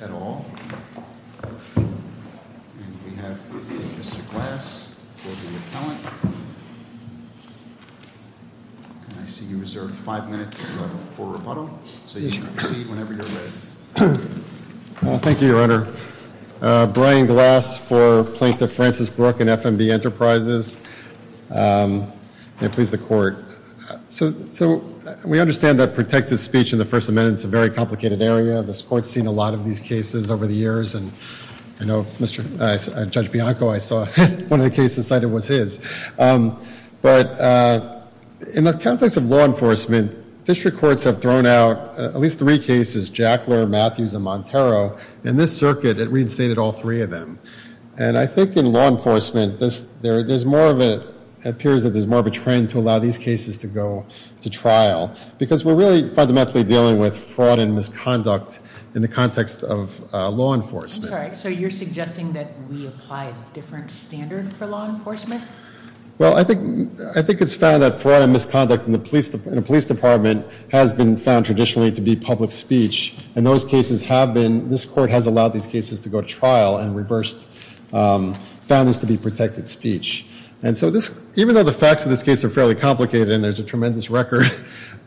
at all. And we have Mr. Glass for the appellant. And I see you reserved five minutes for rebuttal. So you can proceed whenever you're ready. Thank you, Your Honor. Brian Glass for Plaintiff We understand that protected speech in the First Amendment is a very complicated area. This court's seen a lot of these cases over the years. And I know Judge Bianco, I saw one of the cases cited was his. But in the context of law enforcement, district courts have thrown out at least three cases, Jackler, Matthews, and Montero. In this circuit, it reinstated all three of them. And I think in law enforcement, there's more of a trend to allow these cases to go to trial. Because we're really fundamentally dealing with fraud and misconduct in the context of law enforcement. I'm sorry, so you're suggesting that we apply a different standard for law enforcement? Well, I think it's found that fraud and misconduct in a police department has been found traditionally to be public speech. And those cases have been, this court has allowed these cases to go to trial and reversed, found this to be protected speech. And so this, even though the facts of this case are fairly complicated, and there's a tremendous record,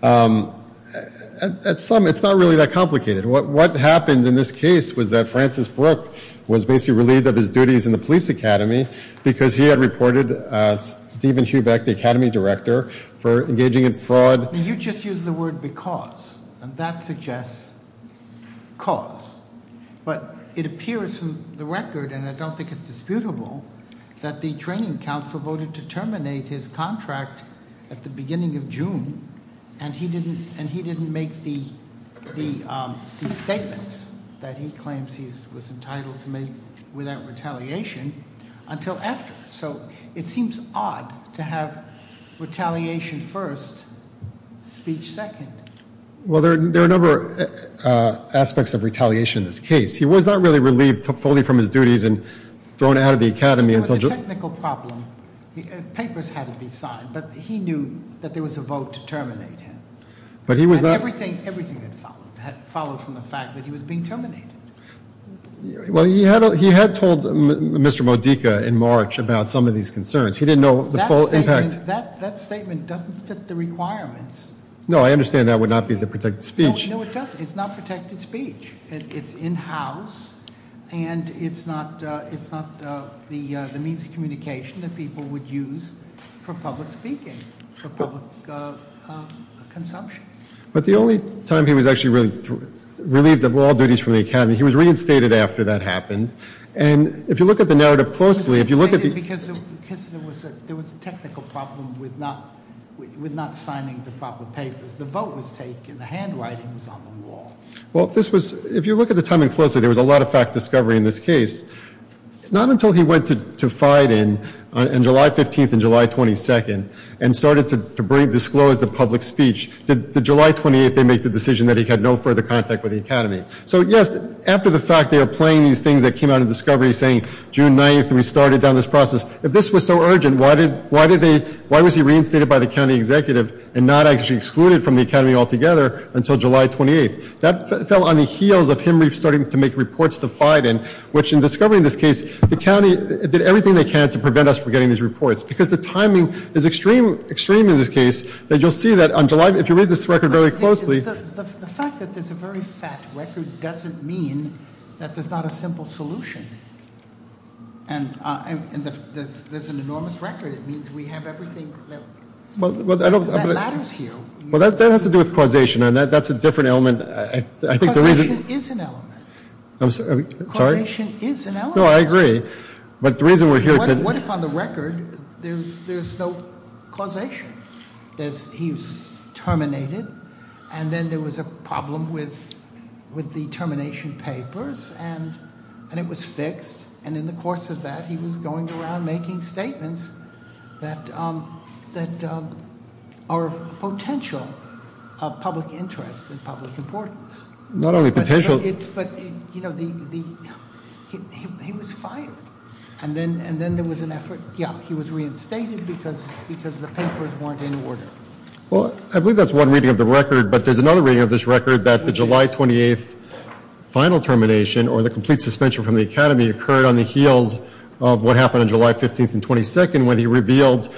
at some, it's not really that complicated. What happened in this case was that Francis Brooke was basically relieved of his duties in the police academy because he had reported Steven Hubeck, the academy director, for engaging in fraud. You just used the word because, and that suggests cause. But it appears in the record, and I don't think it's disputable, that the training council voted to terminate his contract at the beginning of June. And he didn't make the statements that he claims he was entitled to make without retaliation until after. So it seems odd to have retaliation first, speech second. Well, there are a number of aspects of retaliation in this case. He was not really relieved fully from his duties and thrown out of the academy until- The technical problem, papers had to be signed, but he knew that there was a vote to terminate him. But he was not- And everything had followed from the fact that he was being terminated. Well, he had told Mr. Modica in March about some of these concerns. He didn't know the full impact. That statement doesn't fit the requirements. No, I understand that would not be the protected speech. No, it doesn't. It's not protected speech. It's in-house, and it's not the means of communication that people would use for public speaking, for public consumption. But the only time he was actually relieved of all duties from the academy, he was reinstated after that happened. And if you look at the narrative closely, if you look at the- He was reinstated because there was a technical problem with not signing the proper papers. The vote was taken, the handwriting was on the wall. Well, if this was- If you look at the timing closely, there was a lot of fact discovery in this case. Not until he went to Fiden on July 15th and July 22nd and started to disclose the public speech, did July 28th they make the decision that he had no further contact with the academy. So, yes, after the fact, they are playing these things that came out of discovery, saying June 9th, and we started down this process. If this was so urgent, why did they- Why was he reinstated by the county executive and not actually excluded from the academy altogether until July 28th? That fell on the heels of him starting to make reports to Fiden, which in discovering this case, the county did everything they can to prevent us from getting these reports, because the timing is extreme in this case. That you'll see that on July, if you read this record very closely- The fact that there's a very fat record doesn't mean that there's not a simple solution. And there's an enormous record, it means we have everything that matters here. Well, that has to do with causation, and that's a different element. I think the reason- Causation is an element. I'm sorry, I'm sorry? Causation is an element. No, I agree. But the reason we're here to- What if on the record, there's no causation? He's terminated, and then there was a problem with the termination papers, and it was fixed. And in the course of that, he was going around making statements that are of potential public interest and public importance. Not only potential- But he was fired, and then there was an effort. Yeah, he was reinstated because the papers weren't in order. Well, I believe that's one reading of the record, but there's another reading of this record that the July 28th final termination, or the complete suspension from the academy, occurred on the heels of what happened on July 15th and 22nd when he revealed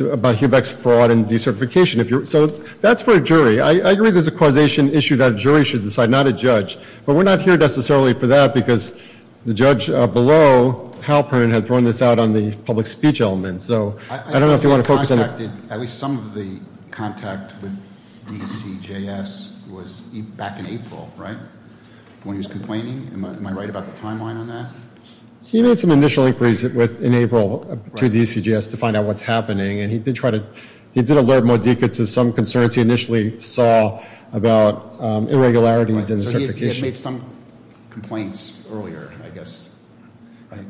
about Hubeck's fraud and decertification. So that's for a jury. I agree there's a causation issue that a jury should decide, not a judge. But we're not here necessarily for that, because the judge below, Hal Perrin, had thrown this out on the public speech element. So I don't know if you want to focus on that. At least some of the contact with DCJS was back in April, right? When he was complaining, am I right about the timeline on that? He made some initial inquiries in April to DCJS to find out what's happening. And he did alert Modica to some concerns he initially saw about irregularities in the certification. So he had made some complaints earlier, I guess, right?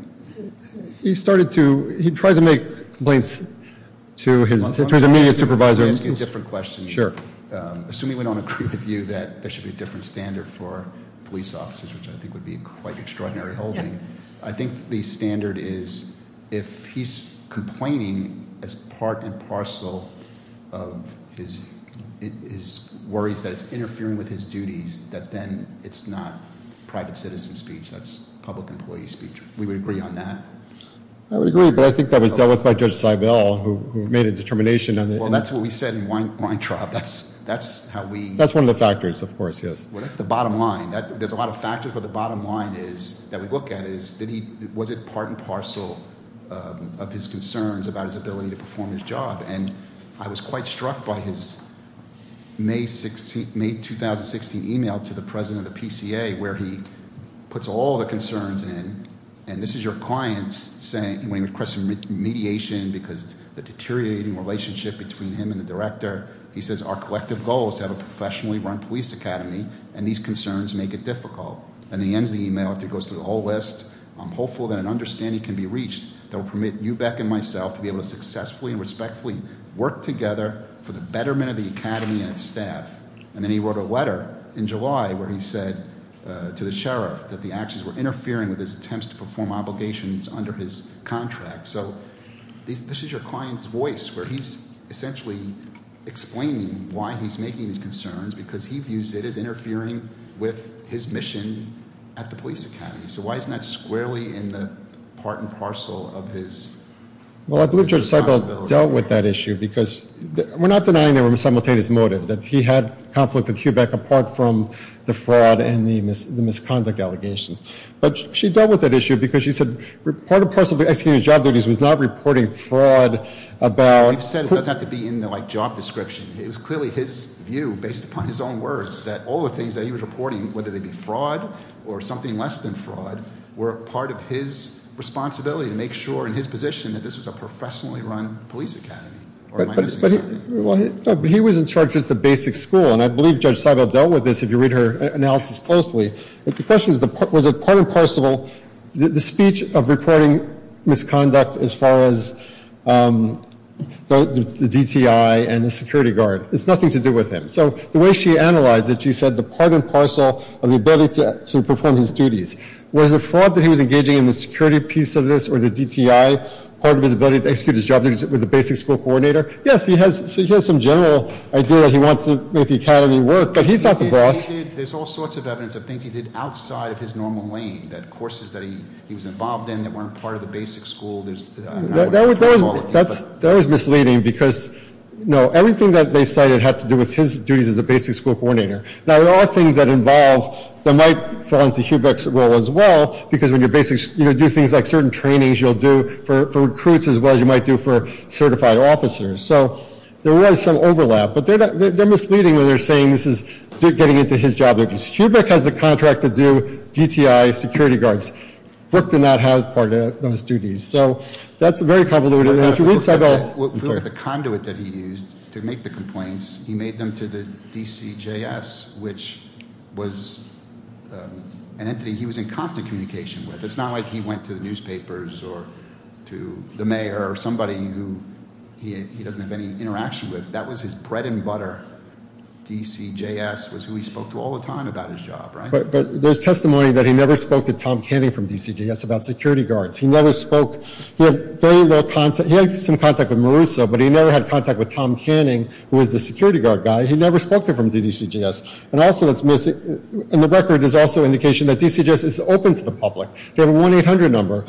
He started to, he tried to make complaints to his immediate supervisor. I'm asking a different question. Sure. Assuming we don't agree with you that there should be a different standard for police officers, which I think would be quite extraordinary holding. I think the standard is if he's complaining as part and parcel of his worries that it's interfering with his duties, that then it's not private citizen speech, that's public employee speech. We would agree on that. I would agree, but I think that was dealt with by Judge Seibel, who made a determination on that. Well, that's what we said in Weintraub, that's how we- That's one of the factors, of course, yes. Well, that's the bottom line. There's a lot of factors, but the bottom line that we look at is, was it part and parcel of his concerns about his ability to perform his job? And I was quite struck by his May 2016 email to the President of the PCA, where he puts all the concerns in, and this is your clients saying, when he requested mediation because the deteriorating relationship between him and the director. He says, our collective goal is to have a professionally run police academy, and these concerns make it difficult. And he ends the email after he goes through the whole list, I'm hopeful that an understanding can be reached that will permit you, Beck, and myself to be able to successfully and respectfully work together for the betterment of the academy and its staff. And then he wrote a letter in July where he said to the sheriff that the actions were interfering with his attempts to perform obligations under his contract, so this is your client's voice, where he's essentially explaining why he's making these concerns, because he views it as interfering with his mission at the police academy. So why isn't that squarely in the part and parcel of his responsibility? Well, I believe Judge Seibel dealt with that issue, because we're not denying there were simultaneous motives, that he had conflict with Hugh Beck apart from the fraud and the misconduct allegations. But she dealt with that issue because she said part of the person who executed his job duties was not reporting fraud about- He said it doesn't have to be in the job description. It was clearly his view, based upon his own words, that all the things that he was reporting, whether they be fraud or something less than fraud, were part of his responsibility to make sure, in his position, that this was a professionally run police academy. But he was in charge of just the basic school, and I believe Judge Seibel dealt with this if you read her analysis closely. The question is, was it part and parcel, the speech of reporting misconduct as far as the DTI and the security guard? It's nothing to do with him. So the way she analyzed it, she said the part and parcel of the ability to perform his duties. Was the fraud that he was engaging in the security piece of this or the DTI part of his ability to execute his job duties with the basic school coordinator? Yes, he has some general idea that he wants to make the academy work, but he's not the boss. There's all sorts of evidence of things he did outside of his normal lane, that courses that he was involved in that weren't part of the basic school. There's- That was misleading, because everything that they cited had to do with his duties as a basic school coordinator. Now, there are things that involve, that might fall into Hubeck's role as well, because when you do things like certain trainings, you'll do for recruits as well as you might do for certified officers. So there was some overlap, but they're misleading when they're saying this is getting into his job duties. Hubeck has the contract to do DTI security guards. Brooke did not have part of those duties. So that's very convoluted. And if you read- The conduit that he used to make the complaints, he made them to the DCJS, which was an entity he was in constant communication with. If it's not like he went to the newspapers or to the mayor or somebody who he doesn't have any interaction with, that was his bread and butter, DCJS was who he spoke to all the time about his job, right? But there's testimony that he never spoke to Tom Canning from DCJS about security guards. He never spoke, he had very little contact, he had some contact with Maruso, but he never had contact with Tom Canning, who was the security guard guy. He never spoke to him from DCJS. And also that's missing, in the record, there's also indication that DCJS is open to the public. They have a 1-800 number.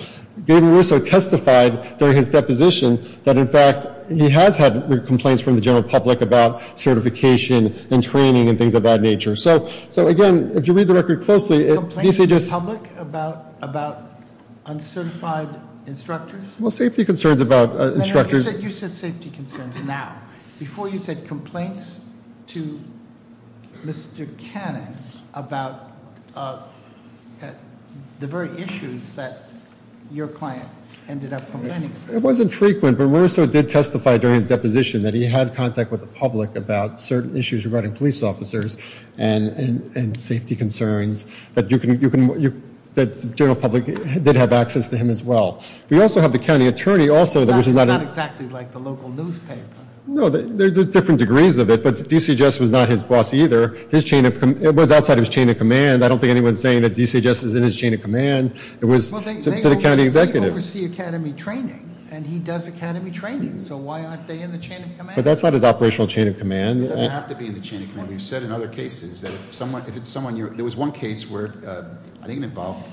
David Maruso testified during his deposition that, in fact, he has had complaints from the general public about certification and training and things of that nature. So, again, if you read the record closely, DCJS- Complaints to the public about uncertified instructors? Well, safety concerns about instructors- You said safety concerns now. Before you said complaints to Mr. Canning about the very issues that your client ended up complaining. It wasn't frequent, but Maruso did testify during his deposition that he had contact with the public about certain issues regarding police officers and safety concerns that the general public did have access to him as well. We also have the county attorney also- It's not exactly like the local newspaper. No, there's different degrees of it, but DCJS was not his boss either. It was outside of his chain of command. I don't think anyone's saying that DCJS is in his chain of command. It was to the county executive. He oversees academy training, and he does academy training, so why aren't they in the chain of command? But that's not his operational chain of command. It doesn't have to be in the chain of command. We've said in other cases that if it's someone you're, there was one case where I think it involved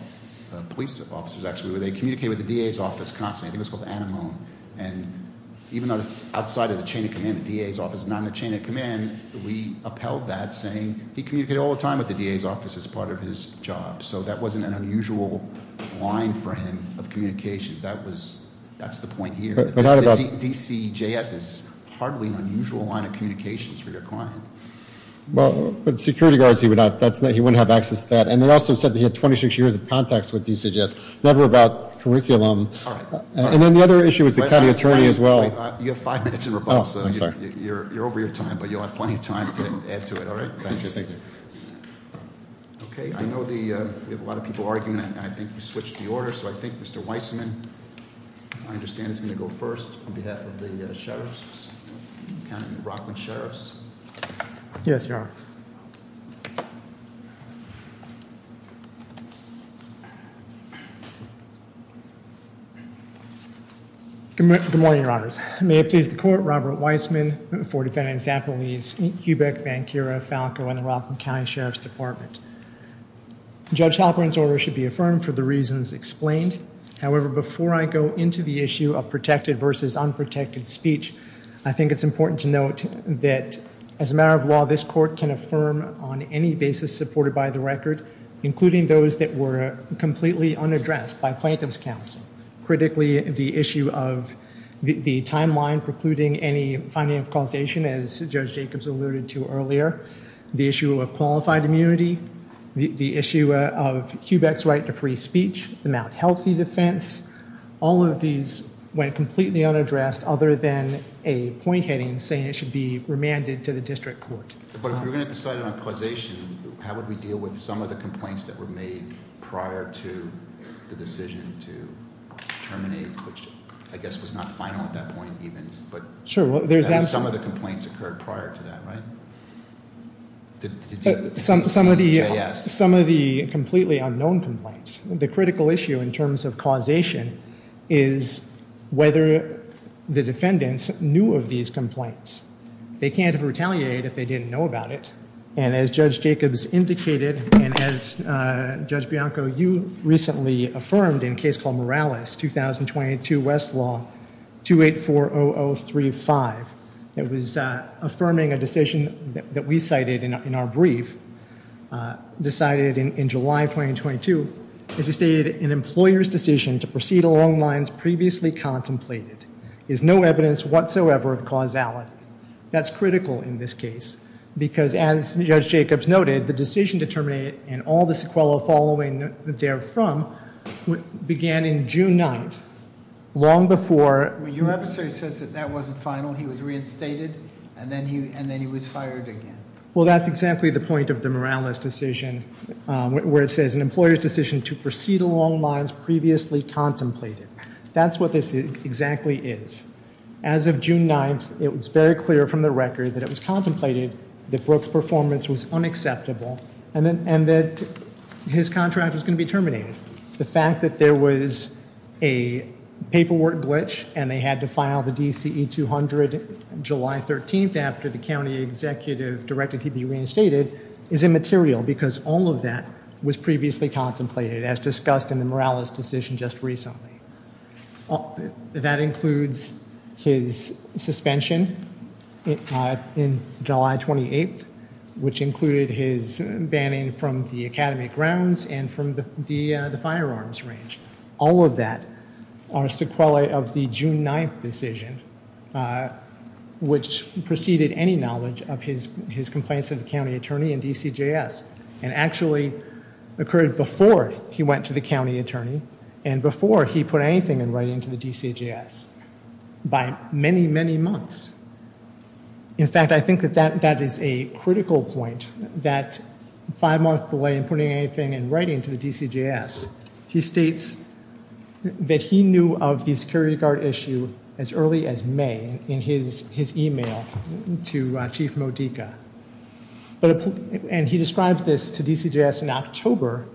police officers actually, where they communicated with the DA's office constantly, I think it was called Anamone. And even though it's outside of the chain of command, the DA's office is not in the chain of command, we upheld that saying he communicated all the time with the DA's office as part of his job. So that wasn't an unusual line for him of communication. That's the point here. DCJS is hardly an unusual line of communications for your client. Well, with security guards, he wouldn't have access to that. And they also said that he had 26 years of contacts with DCJS, never about curriculum. And then the other issue is the county attorney as well. You have five minutes in rebuttal, so you're over your time, but you'll have plenty of time to add to it, all right? Thank you, thank you. Okay, I know we have a lot of people arguing, and I think we switched the order. So I think Mr. Weissman, I understand, is going to go first on behalf of the sheriffs, county of Rockland sheriffs. Yes, your honor. Good morning, your honors. May it please the court, Robert Weissman for defending Zappolese, Hubeck, Vancura, Falco, and the Rockland County Sheriff's Department. Judge Halperin's order should be affirmed for the reasons explained. However, before I go into the issue of protected versus unprotected speech, I think it's important to note that as a matter of law, this court can affirm on any basis supported by the record, including those that were completely unaddressed by Plaintiff's counsel. Critically, the issue of the timeline precluding any finding of causation, as Judge Jacobs alluded to earlier, the issue of qualified immunity, the issue of Hubeck's right to free speech, the Mount Healthy defense. All of these went completely unaddressed other than a point heading saying it should be remanded to the district court. But if we're going to decide on a causation, how would we deal with some of the complaints that were made prior to the decision to terminate? Which I guess was not final at that point even, but some of the complaints occurred prior to that, right? Some of the completely unknown complaints. The critical issue in terms of causation is whether the defendants knew of these complaints. They can't retaliate if they didn't know about it. And as Judge Jacobs indicated, and as Judge Bianco, you recently affirmed in a case called Morales, 2022 West Law 2840035. It was affirming a decision that we cited in our brief, decided in July 2022, as you stated, an employer's decision to proceed along lines previously contemplated. Is no evidence whatsoever of causality. That's critical in this case, because as Judge Jacobs noted, the decision to terminate and all the sequelae following therefrom began in June 9th, long before- When your episode says that that wasn't final, he was reinstated, and then he was fired again. Well, that's exactly the point of the Morales decision, where it says an employer's decision to proceed along lines previously contemplated. That's what this exactly is. As of June 9th, it was very clear from the record that it was contemplated that Brooke's performance was unacceptable and that his contract was going to be terminated. The fact that there was a paperwork glitch and they had to file the DCE 200 July 13th after the county executive directed him to be reinstated is immaterial because all of that was previously contemplated as discussed in the Morales decision just recently. That includes his suspension in July 28th, which included his banning from the academy grounds and from the firearms range. All of that are sequelae of the June 9th decision, which preceded any knowledge of his complaints to the county attorney and DCJS. And actually occurred before he went to the county attorney and before he put anything in writing to the DCJS by many, many months. In fact, I think that that is a critical point, that five month delay in putting anything in writing to the DCJS. He states that he knew of the security guard issue as early as May in his email to Chief Modica. And he describes this to DCJS in October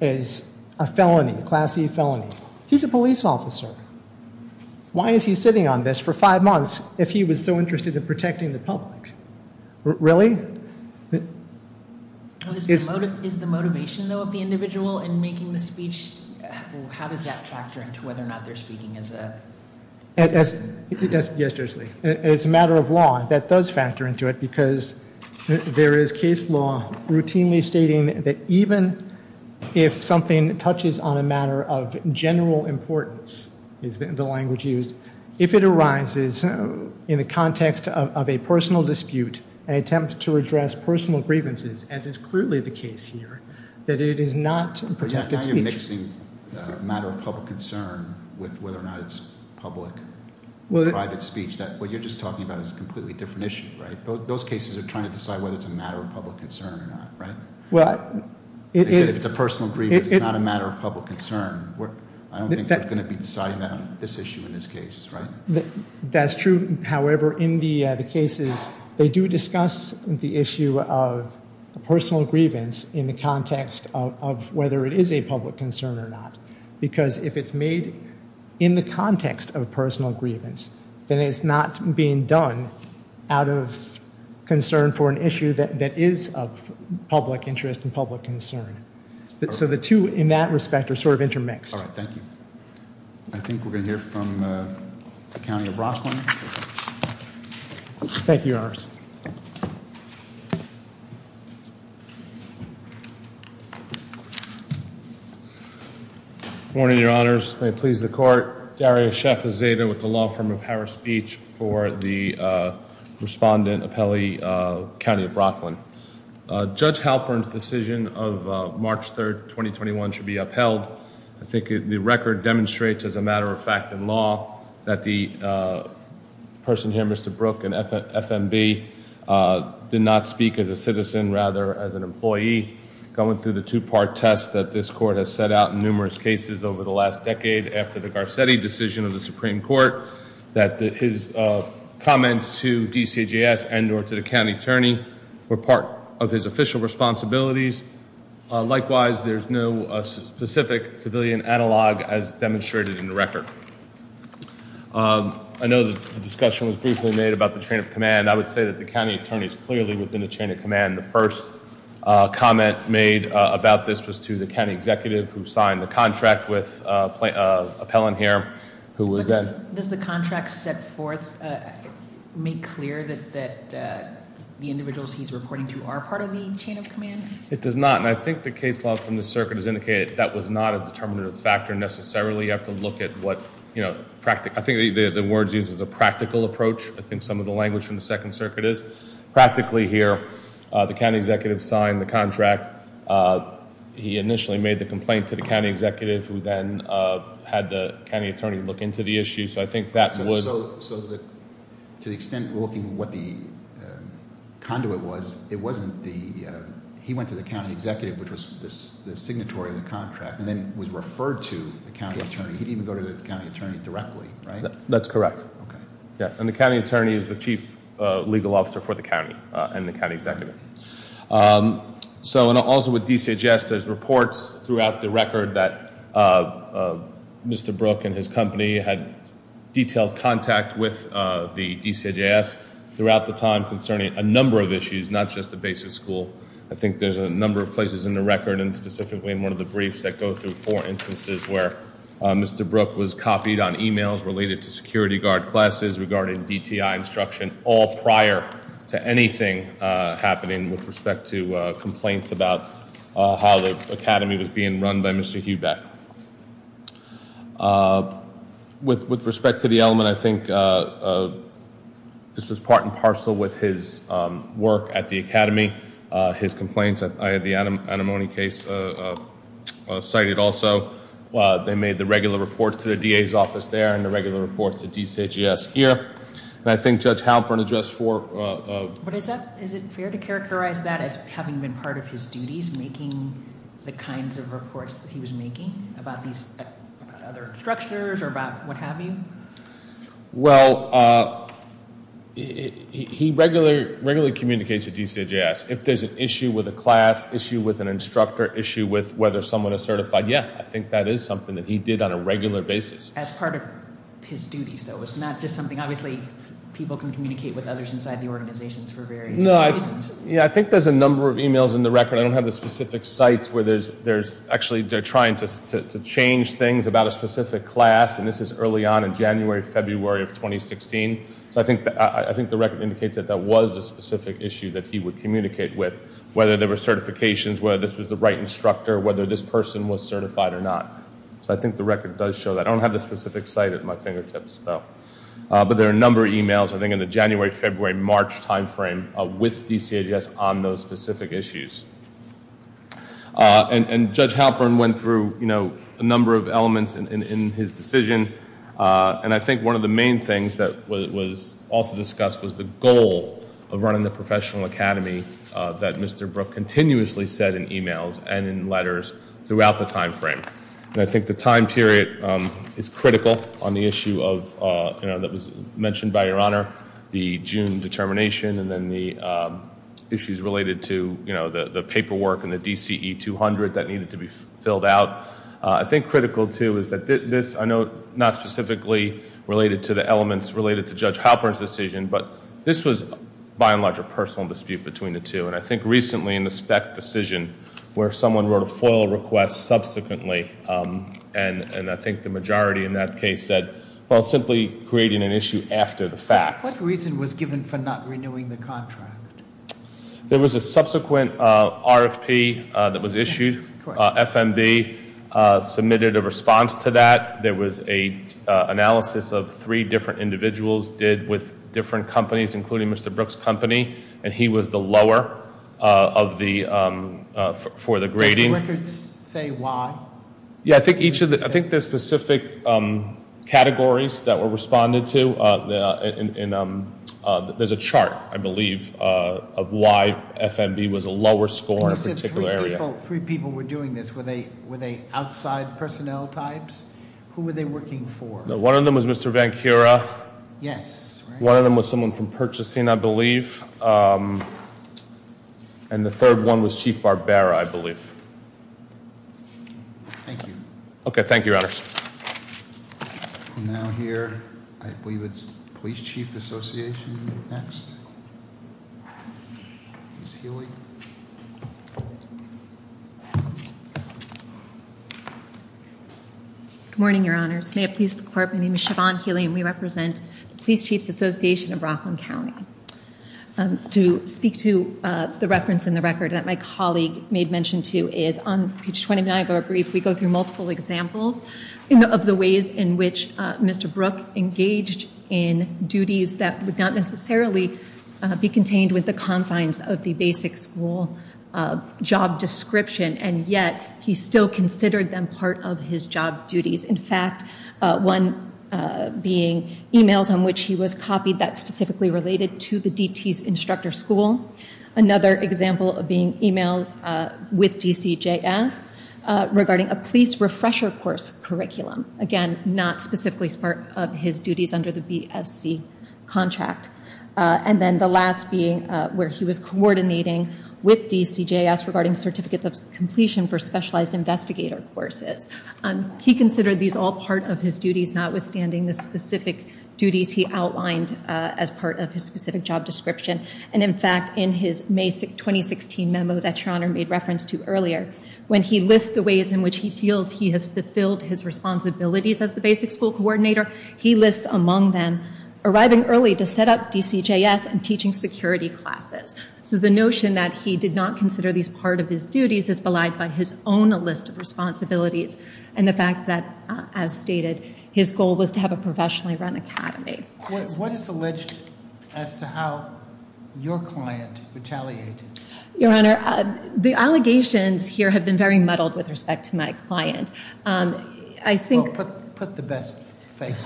as a felony, a class E felony. He's a police officer. Why is he sitting on this for five months if he was so interested in protecting the public? Really? Is the motivation though of the individual in making the speech, how does that factor into whether or not they're speaking as a- Yes, yes, Jersley. As a matter of law, that does factor into it, because there is case law routinely stating that even if something touches on a matter of general importance, is the language used. If it arises in the context of a personal dispute, an attempt to address personal grievances, as is clearly the case here, that it is not protected speech. When you're mixing a matter of public concern with whether or not it's public or private speech, what you're just talking about is a completely different issue, right? Those cases are trying to decide whether it's a matter of public concern or not, right? Well, it is- They said if it's a personal grievance, it's not a matter of public concern. I don't think they're going to be deciding that on this issue in this case, right? That's true. However, in the cases, they do discuss the issue of personal grievance in the context of whether it is a public concern or not, because if it's made in the context of personal grievance, then it's not being done out of concern for an issue that is of public interest and public concern. So the two in that respect are sort of intermixed. All right, thank you. I think we're going to hear from the County of Rockland. Thank you, Your Honors. Good morning, Your Honors. May it please the court. Darius Sheffazada with the law firm of Harris Beach for the respondent appellee, County of Rockland. Judge Halpern's decision of March 3rd, 2021 should be upheld. I think the record demonstrates as a matter of fact in law that the person here, Mr. Brooke, an FMB, did not speak as a citizen, rather as an employee. Going through the two-part test that this court has set out in numerous cases over the last decade after the Garcetti decision of the Supreme Court, that his comments to DCJS and or to the county attorney were part of his official responsibilities. Likewise, there's no specific civilian analog as demonstrated in the record. I know the discussion was briefly made about the chain of command. I would say that the county attorney's clearly within the chain of command. The first comment made about this was to the county executive who signed the contract with Appellant here, who was then- Does the contract set forth, make clear that the individuals he's reporting to are part of the chain of command? It does not, and I think the case law from the circuit has indicated that was not a determinative factor necessarily. You have to look at what, I think the words used is a practical approach. I think some of the language from the second circuit is. Practically here, the county executive signed the contract. He initially made the complaint to the county executive, who then had the county attorney look into the issue. So I think that would- So to the extent we're looking at what the conduit was, it wasn't the, he went to the county executive, which was the signatory of the contract, and then was referred to the county attorney. He didn't go to the county attorney directly, right? That's correct. Yeah, and the county attorney is the chief legal officer for the county and the county executive. So, and also with DCHS, there's reports throughout the record that Mr. Brooke and his company had detailed contact with the DCHS throughout the time concerning a number of issues, not just the basic school. I think there's a number of places in the record, and specifically in one of the briefs that go through four instances where Mr. Brooke was copied on emails related to security guard classes regarding DTI instruction, all prior to anything happening with respect to complaints about how the academy was being run by Mr. Hubeck. With respect to the element, I think this was part and parcel with his work at the academy, his complaints. I had the anemone case cited also. They made the regular reports to the DA's office there, and the regular reports to DCHS here. And I think Judge Halpern addressed for- What is that? Is it fair to characterize that as having been part of his duties, making the kinds of reports that he was making? About these other structures, or about what have you? Well, he regularly communicates with DCHS. If there's an issue with a class, issue with an instructor, issue with whether someone is certified, yeah, I think that is something that he did on a regular basis. As part of his duties, though, it's not just something, obviously, people can communicate with others inside the organizations for various reasons. Yeah, I think there's a number of emails in the record. I don't have the specific sites where there's actually, they're trying to change things about a specific class. And this is early on in January, February of 2016. So I think the record indicates that that was a specific issue that he would communicate with. Whether there were certifications, whether this was the right instructor, whether this person was certified or not. So I think the record does show that. I don't have the specific site at my fingertips, though. But there are a number of emails, I think, in the January, February, March time frame with DCHS on those specific issues. And Judge Halpern went through a number of elements in his decision. And I think one of the main things that was also discussed was the goal of running the professional academy that Mr. Brooke continuously said in emails and in letters throughout the time frame. And I think the time period is critical on the issue that was mentioned by your honor. The June determination and then the issues related to the paperwork and the DCE 200 that needed to be filled out. I think critical too is that this, I know not specifically related to the elements related to Judge Halpern's decision. But this was by and large a personal dispute between the two. And I think recently in the spec decision, where someone wrote a FOIL request subsequently. And I think the majority in that case said, well, it's simply creating an issue after the fact. What reason was given for not renewing the contract? There was a subsequent RFP that was issued. FMB submitted a response to that. There was a analysis of three different individuals did with different companies, including Mr. Brooke's company, and he was the lower for the grading. Does the records say why? Yeah, I think there's specific categories that were responded to. And there's a chart, I believe, of why FMB was a lower score in a particular area. Three people were doing this. Were they outside personnel types? Who were they working for? One of them was Mr. Vancouver. Yes. One of them was someone from purchasing, I believe. And the third one was Chief Barbera, I believe. Thank you. Okay, thank you, Your Honors. Now here, I believe it's Police Chief Association next. Ms. Healy. Good morning, Your Honors. May it please the court, my name is Siobhan Healy. We represent the Police Chiefs Association of Rockland County. To speak to the reference in the record that my colleague made mention to is on page 29 of our brief, we go through multiple examples of the ways in which Mr. Brooke engaged in duties that would not necessarily be contained with the confines of the basic school job description. And yet, he still considered them part of his job duties. In fact, one being emails on which he was copied that specifically related to the DT's instructor school. Another example of being emails with DCJS regarding a police refresher course curriculum. Again, not specifically part of his duties under the BSC contract. And then the last being where he was coordinating with DCJS regarding certificates of completion for specialized investigator courses. He considered these all part of his duties, notwithstanding the specific duties he outlined as part of his specific job description. And in fact, in his May 2016 memo that Your Honor made reference to earlier, when he lists the ways in which he feels he has fulfilled his responsibilities as the basic school coordinator, he lists among them arriving early to set up DCJS and teaching security classes. So the notion that he did not consider these part of his duties is belied by his own list of responsibilities. And the fact that, as stated, his goal was to have a professionally run academy. What is alleged as to how your client retaliated? Your Honor, the allegations here have been very muddled with respect to my client. I think- Put the best face.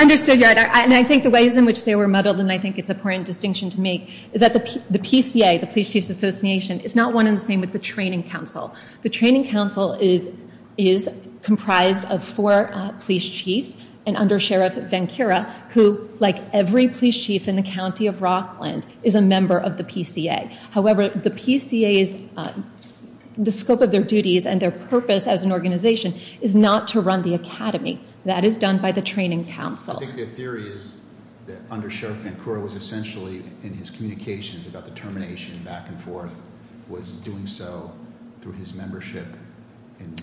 Understood, Your Honor. And I think the ways in which they were muddled, and I think it's important distinction to make, is that the PCA, the Police Chiefs Association, is not one and the same with the training council. The training council is comprised of four police chiefs and under Sheriff Vancura, who, like every police chief in the county of Rockland, is a member of the PCA. However, the PCA's, the scope of their duties and their purpose as an organization, is not to run the academy. That is done by the training council. I think the theory is that under Sheriff Vancura was essentially, in his communications about the termination, back and forth, was doing so through his membership in the-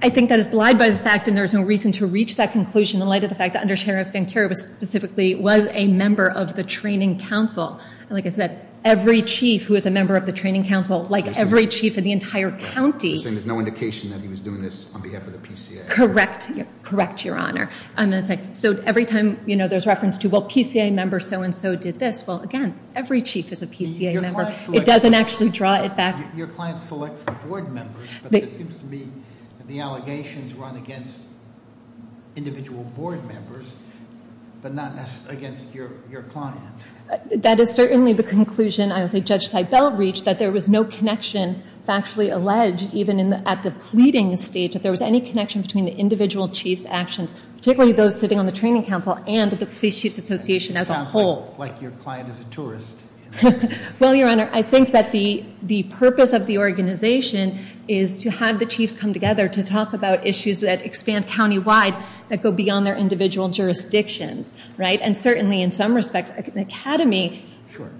I think that is belied by the fact, and there is no reason to reach that conclusion, in light of the fact that under Sheriff Vancura was specifically, was a member of the training council. And like I said, every chief who is a member of the training council, like every chief in the entire county- You're saying there's no indication that he was doing this on behalf of the PCA? Correct, correct, your honor. I'm going to say, so every time there's reference to, well, PCA member so and so did this. Well, again, every chief is a PCA member. It doesn't actually draw it back- Your client selects the board members, but it seems to me that the allegations run against individual board members, but not against your client. That is certainly the conclusion, I would say, Judge Seibel reached, that there was no connection, factually alleged, even at the pleading stage, that there was any connection between the individual chief's actions, particularly those sitting on the training council and the police chief's association as a whole. Like your client is a tourist. Well, your honor, I think that the purpose of the organization is to have the chiefs come together to talk about issues that expand county-wide, that go beyond their individual jurisdictions, right? And certainly, in some respects, an academy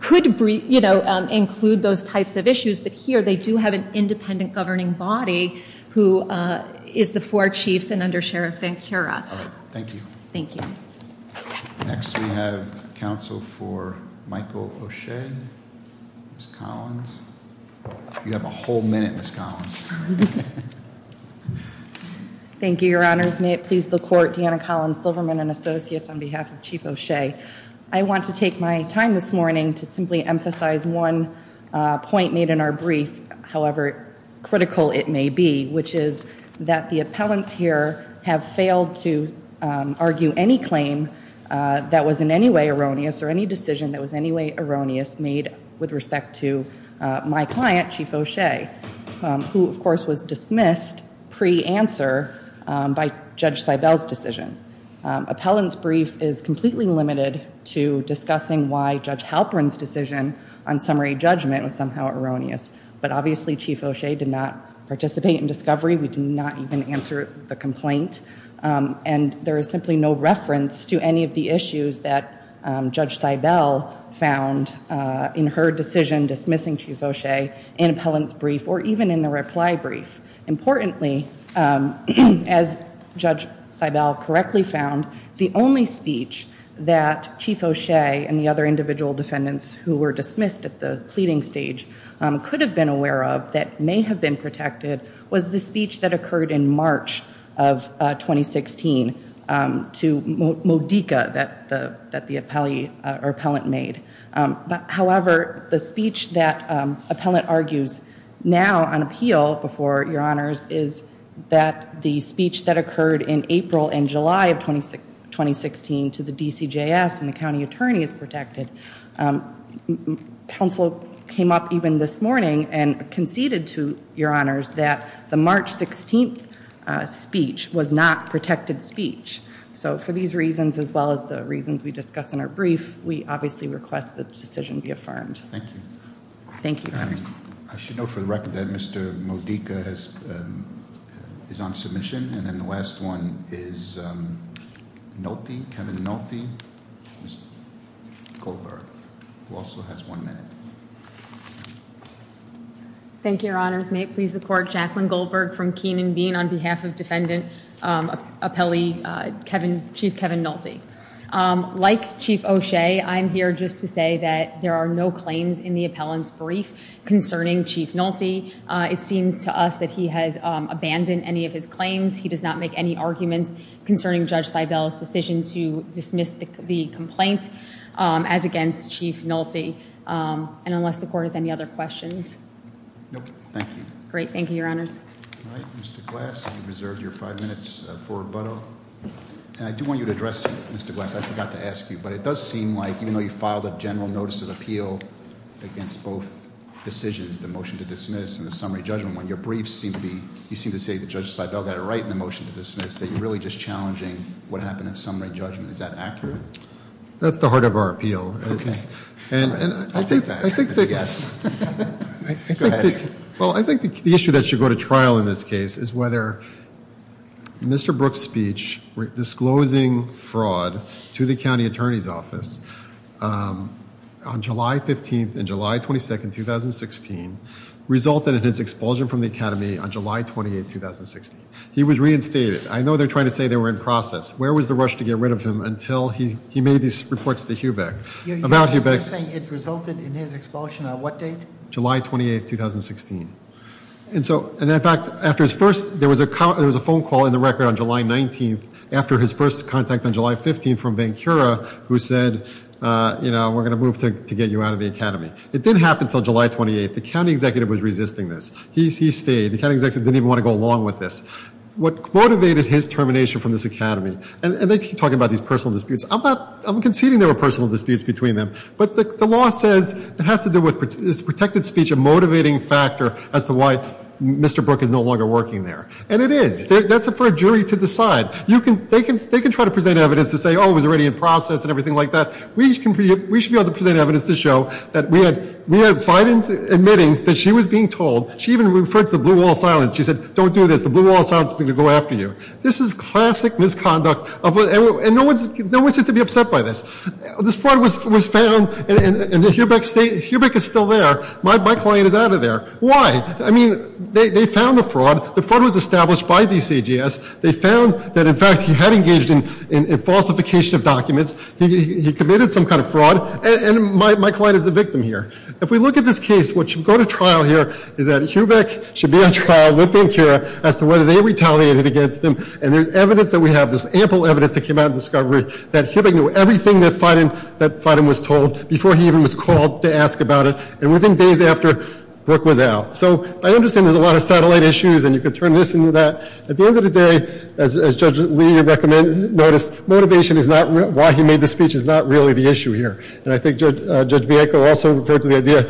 could include those types of issues. But here, they do have an independent governing body who is the four chiefs and under Sheriff Van Cura. Thank you. Thank you. Next, we have counsel for Michael O'Shea, Ms. Collins. You have a whole minute, Ms. Collins. Thank you, your honors. May it please the court, Deanna Collins-Silverman and associates on behalf of Chief O'Shea. I want to take my time this morning to simply emphasize one point made in our brief, however critical it may be, which is that the appellants here have failed to argue any claim that was in any way erroneous, or any decision that was in any way erroneous, made with respect to my client, Chief O'Shea, who, of course, was dismissed pre-answer by Judge Seibel's decision. Appellant's brief is completely limited to discussing why Judge Halperin's decision on summary judgment was somehow erroneous. But obviously, Chief O'Shea did not participate in discovery. We did not even answer the complaint. And there is simply no reference to any of the issues that Judge Seibel found in her decision dismissing Chief O'Shea in appellant's brief, or even in the reply brief. Importantly, as Judge Seibel correctly found, the only speech that Chief O'Shea and the other individual defendants who were dismissed at the pleading stage could have been aware of that may have been protected was the speech that occurred in March of 2016 to Modica that the appellant made. However, the speech that appellant argues now on appeal before your honors is that the speech that occurred in April and July of 2016 to the DCJS and the county attorney is protected. And counsel came up even this morning and conceded to your honors that the March 16th speech was not protected speech. So for these reasons, as well as the reasons we discussed in our brief, we obviously request that the decision be affirmed. Thank you. Thank you, Congress. I should note for the record that Mr. Modica is on submission. And then the last one is Kevin Nolte, Mr. Goldberg, who also has one minute. Thank you, your honors. May it please the court, Jacqueline Goldberg from Keenan Bean on behalf of Defendant Appellee Chief Kevin Nolte. Like Chief O'Shea, I'm here just to say that there are no claims in the appellant's brief concerning Chief Nolte. It seems to us that he has abandoned any of his claims. He does not make any arguments concerning Judge Seibel's decision to dismiss the complaint as against Chief Nolte. And unless the court has any other questions. Nope, thank you. Great, thank you, your honors. All right, Mr. Glass, you've reserved your five minutes for rebuttal. And I do want you to address, Mr. Glass, I forgot to ask you, but it does seem like even though you filed a general notice of appeal against both decisions, the motion to dismiss and the summary judgment, when your briefs seem to be, you seem to say that Judge Seibel got it right in the motion to dismiss, that you're really just challenging what happened in summary judgment. Is that accurate? That's the heart of our appeal. Okay. And I think that- I'll take that as a yes. Go ahead. Well, I think the issue that should go to trial in this case is whether Mr. Brooks' speech disclosing fraud to the county attorney's office on July 15th and July 22nd, 2016, resulted in his expulsion from the academy on July 28th, 2016. He was reinstated. I know they're trying to say they were in process. Where was the rush to get rid of him until he made these reports to Hubeck? You're saying it resulted in his expulsion on what date? July 28th, 2016. And so, and in fact, after his first, there was a phone call in the record on July 19th, after his first contact on July 15th from Bankura who said, you know, we're going to move to get you out of the academy. It didn't happen until July 28th. The county executive was resisting this. He stayed. The county executive didn't even want to go along with this. What motivated his termination from this academy, and they keep talking about these personal disputes. I'm conceding there were personal disputes between them. But the law says it has to do with, is protected speech a motivating factor as to why Mr. Brooks is no longer working there? And it is. That's for a jury to decide. They can try to present evidence to say, oh, it was already in process and everything like that. We should be able to present evidence to show that we had Fidens admitting that she was being told. She even referred to the blue wall silence. She said, don't do this. The blue wall silence is going to go after you. This is classic misconduct, and no one seems to be upset by this. This fraud was found, and Hubeck is still there. My client is out of there. Why? I mean, they found the fraud. The fraud was established by DCGS. They found that, in fact, he had engaged in falsification of documents. He committed some kind of fraud, and my client is the victim here. If we look at this case, what should go to trial here is that Hubeck should be on trial with Incura as to whether they retaliated against him. And there's evidence that we have, this ample evidence that came out of the discovery that Hubeck knew everything that Fiden was told before he even was called to ask about it. And within days after, Brook was out. So I understand there's a lot of satellite issues, and you could turn this into that. At the end of the day, as Judge Lee recommended, noticed motivation is not why he made the speech is not really the issue here. And I think Judge Bianco also referred to the idea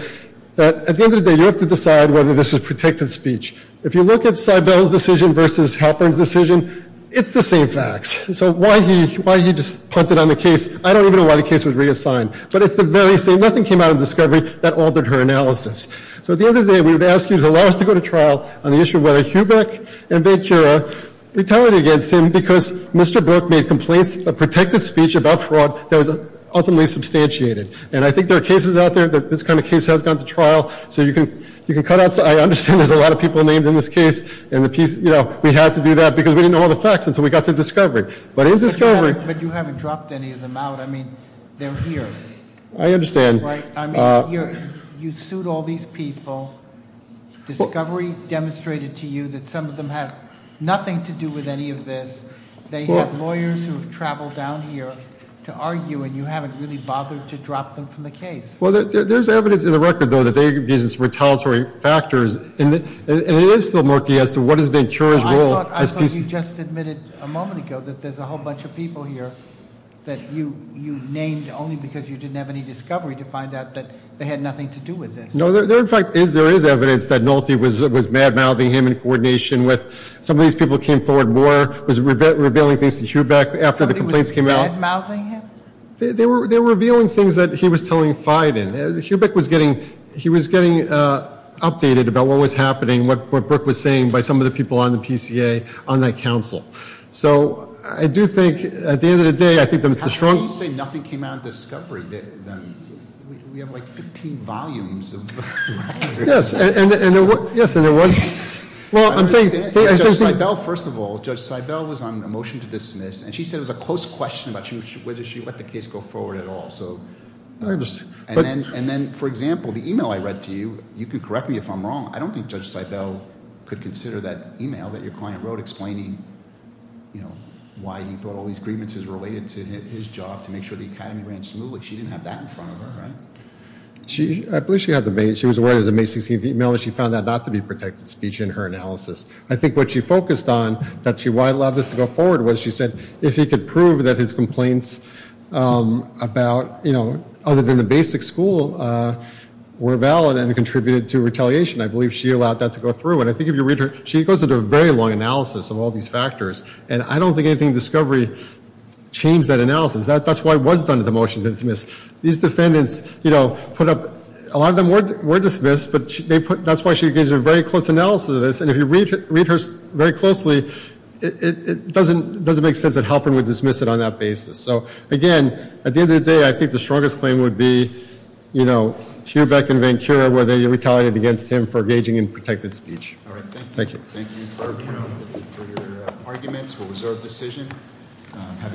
that at the end of the day, you have to decide whether this was protected speech. If you look at Seibel's decision versus Halpern's decision, it's the same facts. So why he just punted on the case, I don't even know why the case was reassigned. But it's the very same. Nothing came out of the discovery that altered her analysis. So at the end of the day, we would ask you to allow us to go to trial on the issue of whether Hubeck and Ventura retaliated against him because Mr. Brook made complaints of protected speech about fraud that was ultimately substantiated. And I think there are cases out there that this kind of case has gone to trial. So you can cut out, I understand there's a lot of people named in this case. And we had to do that because we didn't know all the facts until we got to discovery. But in discovery- But you haven't dropped any of them out. I mean, they're here. I understand. Right, I mean, you sued all these people. Discovery demonstrated to you that some of them have nothing to do with any of this. They have lawyers who have traveled down here to argue, and you haven't really bothered to drop them from the case. Well, there's evidence in the record, though, that they're using some retaliatory factors. And it is still murky as to what is Ventura's role as pieces- I thought you just admitted a moment ago that there's a whole bunch of people here that you named only because you didn't have any discovery to find out that they had nothing to do with this. No, there in fact is, there is evidence that Nolte was mad-mouthing him in coordination with some of these people who came forward more. Was revealing things to Hubeck after the complaints came out. Somebody was mad-mouthing him? They were revealing things that he was telling Fieden. Hubeck was getting, he was getting updated about what was happening, what Brooke was saying by some of the people on the PCA, on that council. So I do think, at the end of the day, I think that the strong- How can you say nothing came out of discovery? We have like 15 volumes of- Yes, and there was, well, I'm saying- Judge Seibel, first of all, Judge Seibel was on a motion to dismiss, and she said it was a close question about whether she let the case go forward at all. So, and then, for example, the email I read to you, you can correct me if I'm wrong, I don't think Judge Seibel could consider that email that your client wrote explaining why he thought all these grievances related to his job to make sure the academy ran smoothly. She didn't have that in front of her, right? I believe she had the main, she was aware it was a May 16th email, and she found that not to be protected speech in her analysis. I think what she focused on, that she allowed this to go forward, was she said, if he could prove that his complaints about, you know, other than the basic school were valid and contributed to retaliation. I believe she allowed that to go through, and I think if you read her, she goes into a very long analysis of all these factors. And I don't think anything in discovery changed that analysis. That's why it was done at the motion to dismiss. These defendants, you know, put up, a lot of them were dismissed, but they put, that's why she gives a very close analysis of this. And if you read her very closely, it doesn't make sense that Halpern would dismiss it on that basis. So, again, at the end of the day, I think the strongest claim would be, you know, Hubeck and Vancouver, where they retaliated against him for engaging in protected speech. All right, thank you. Thank you for your arguments, for reserved decision.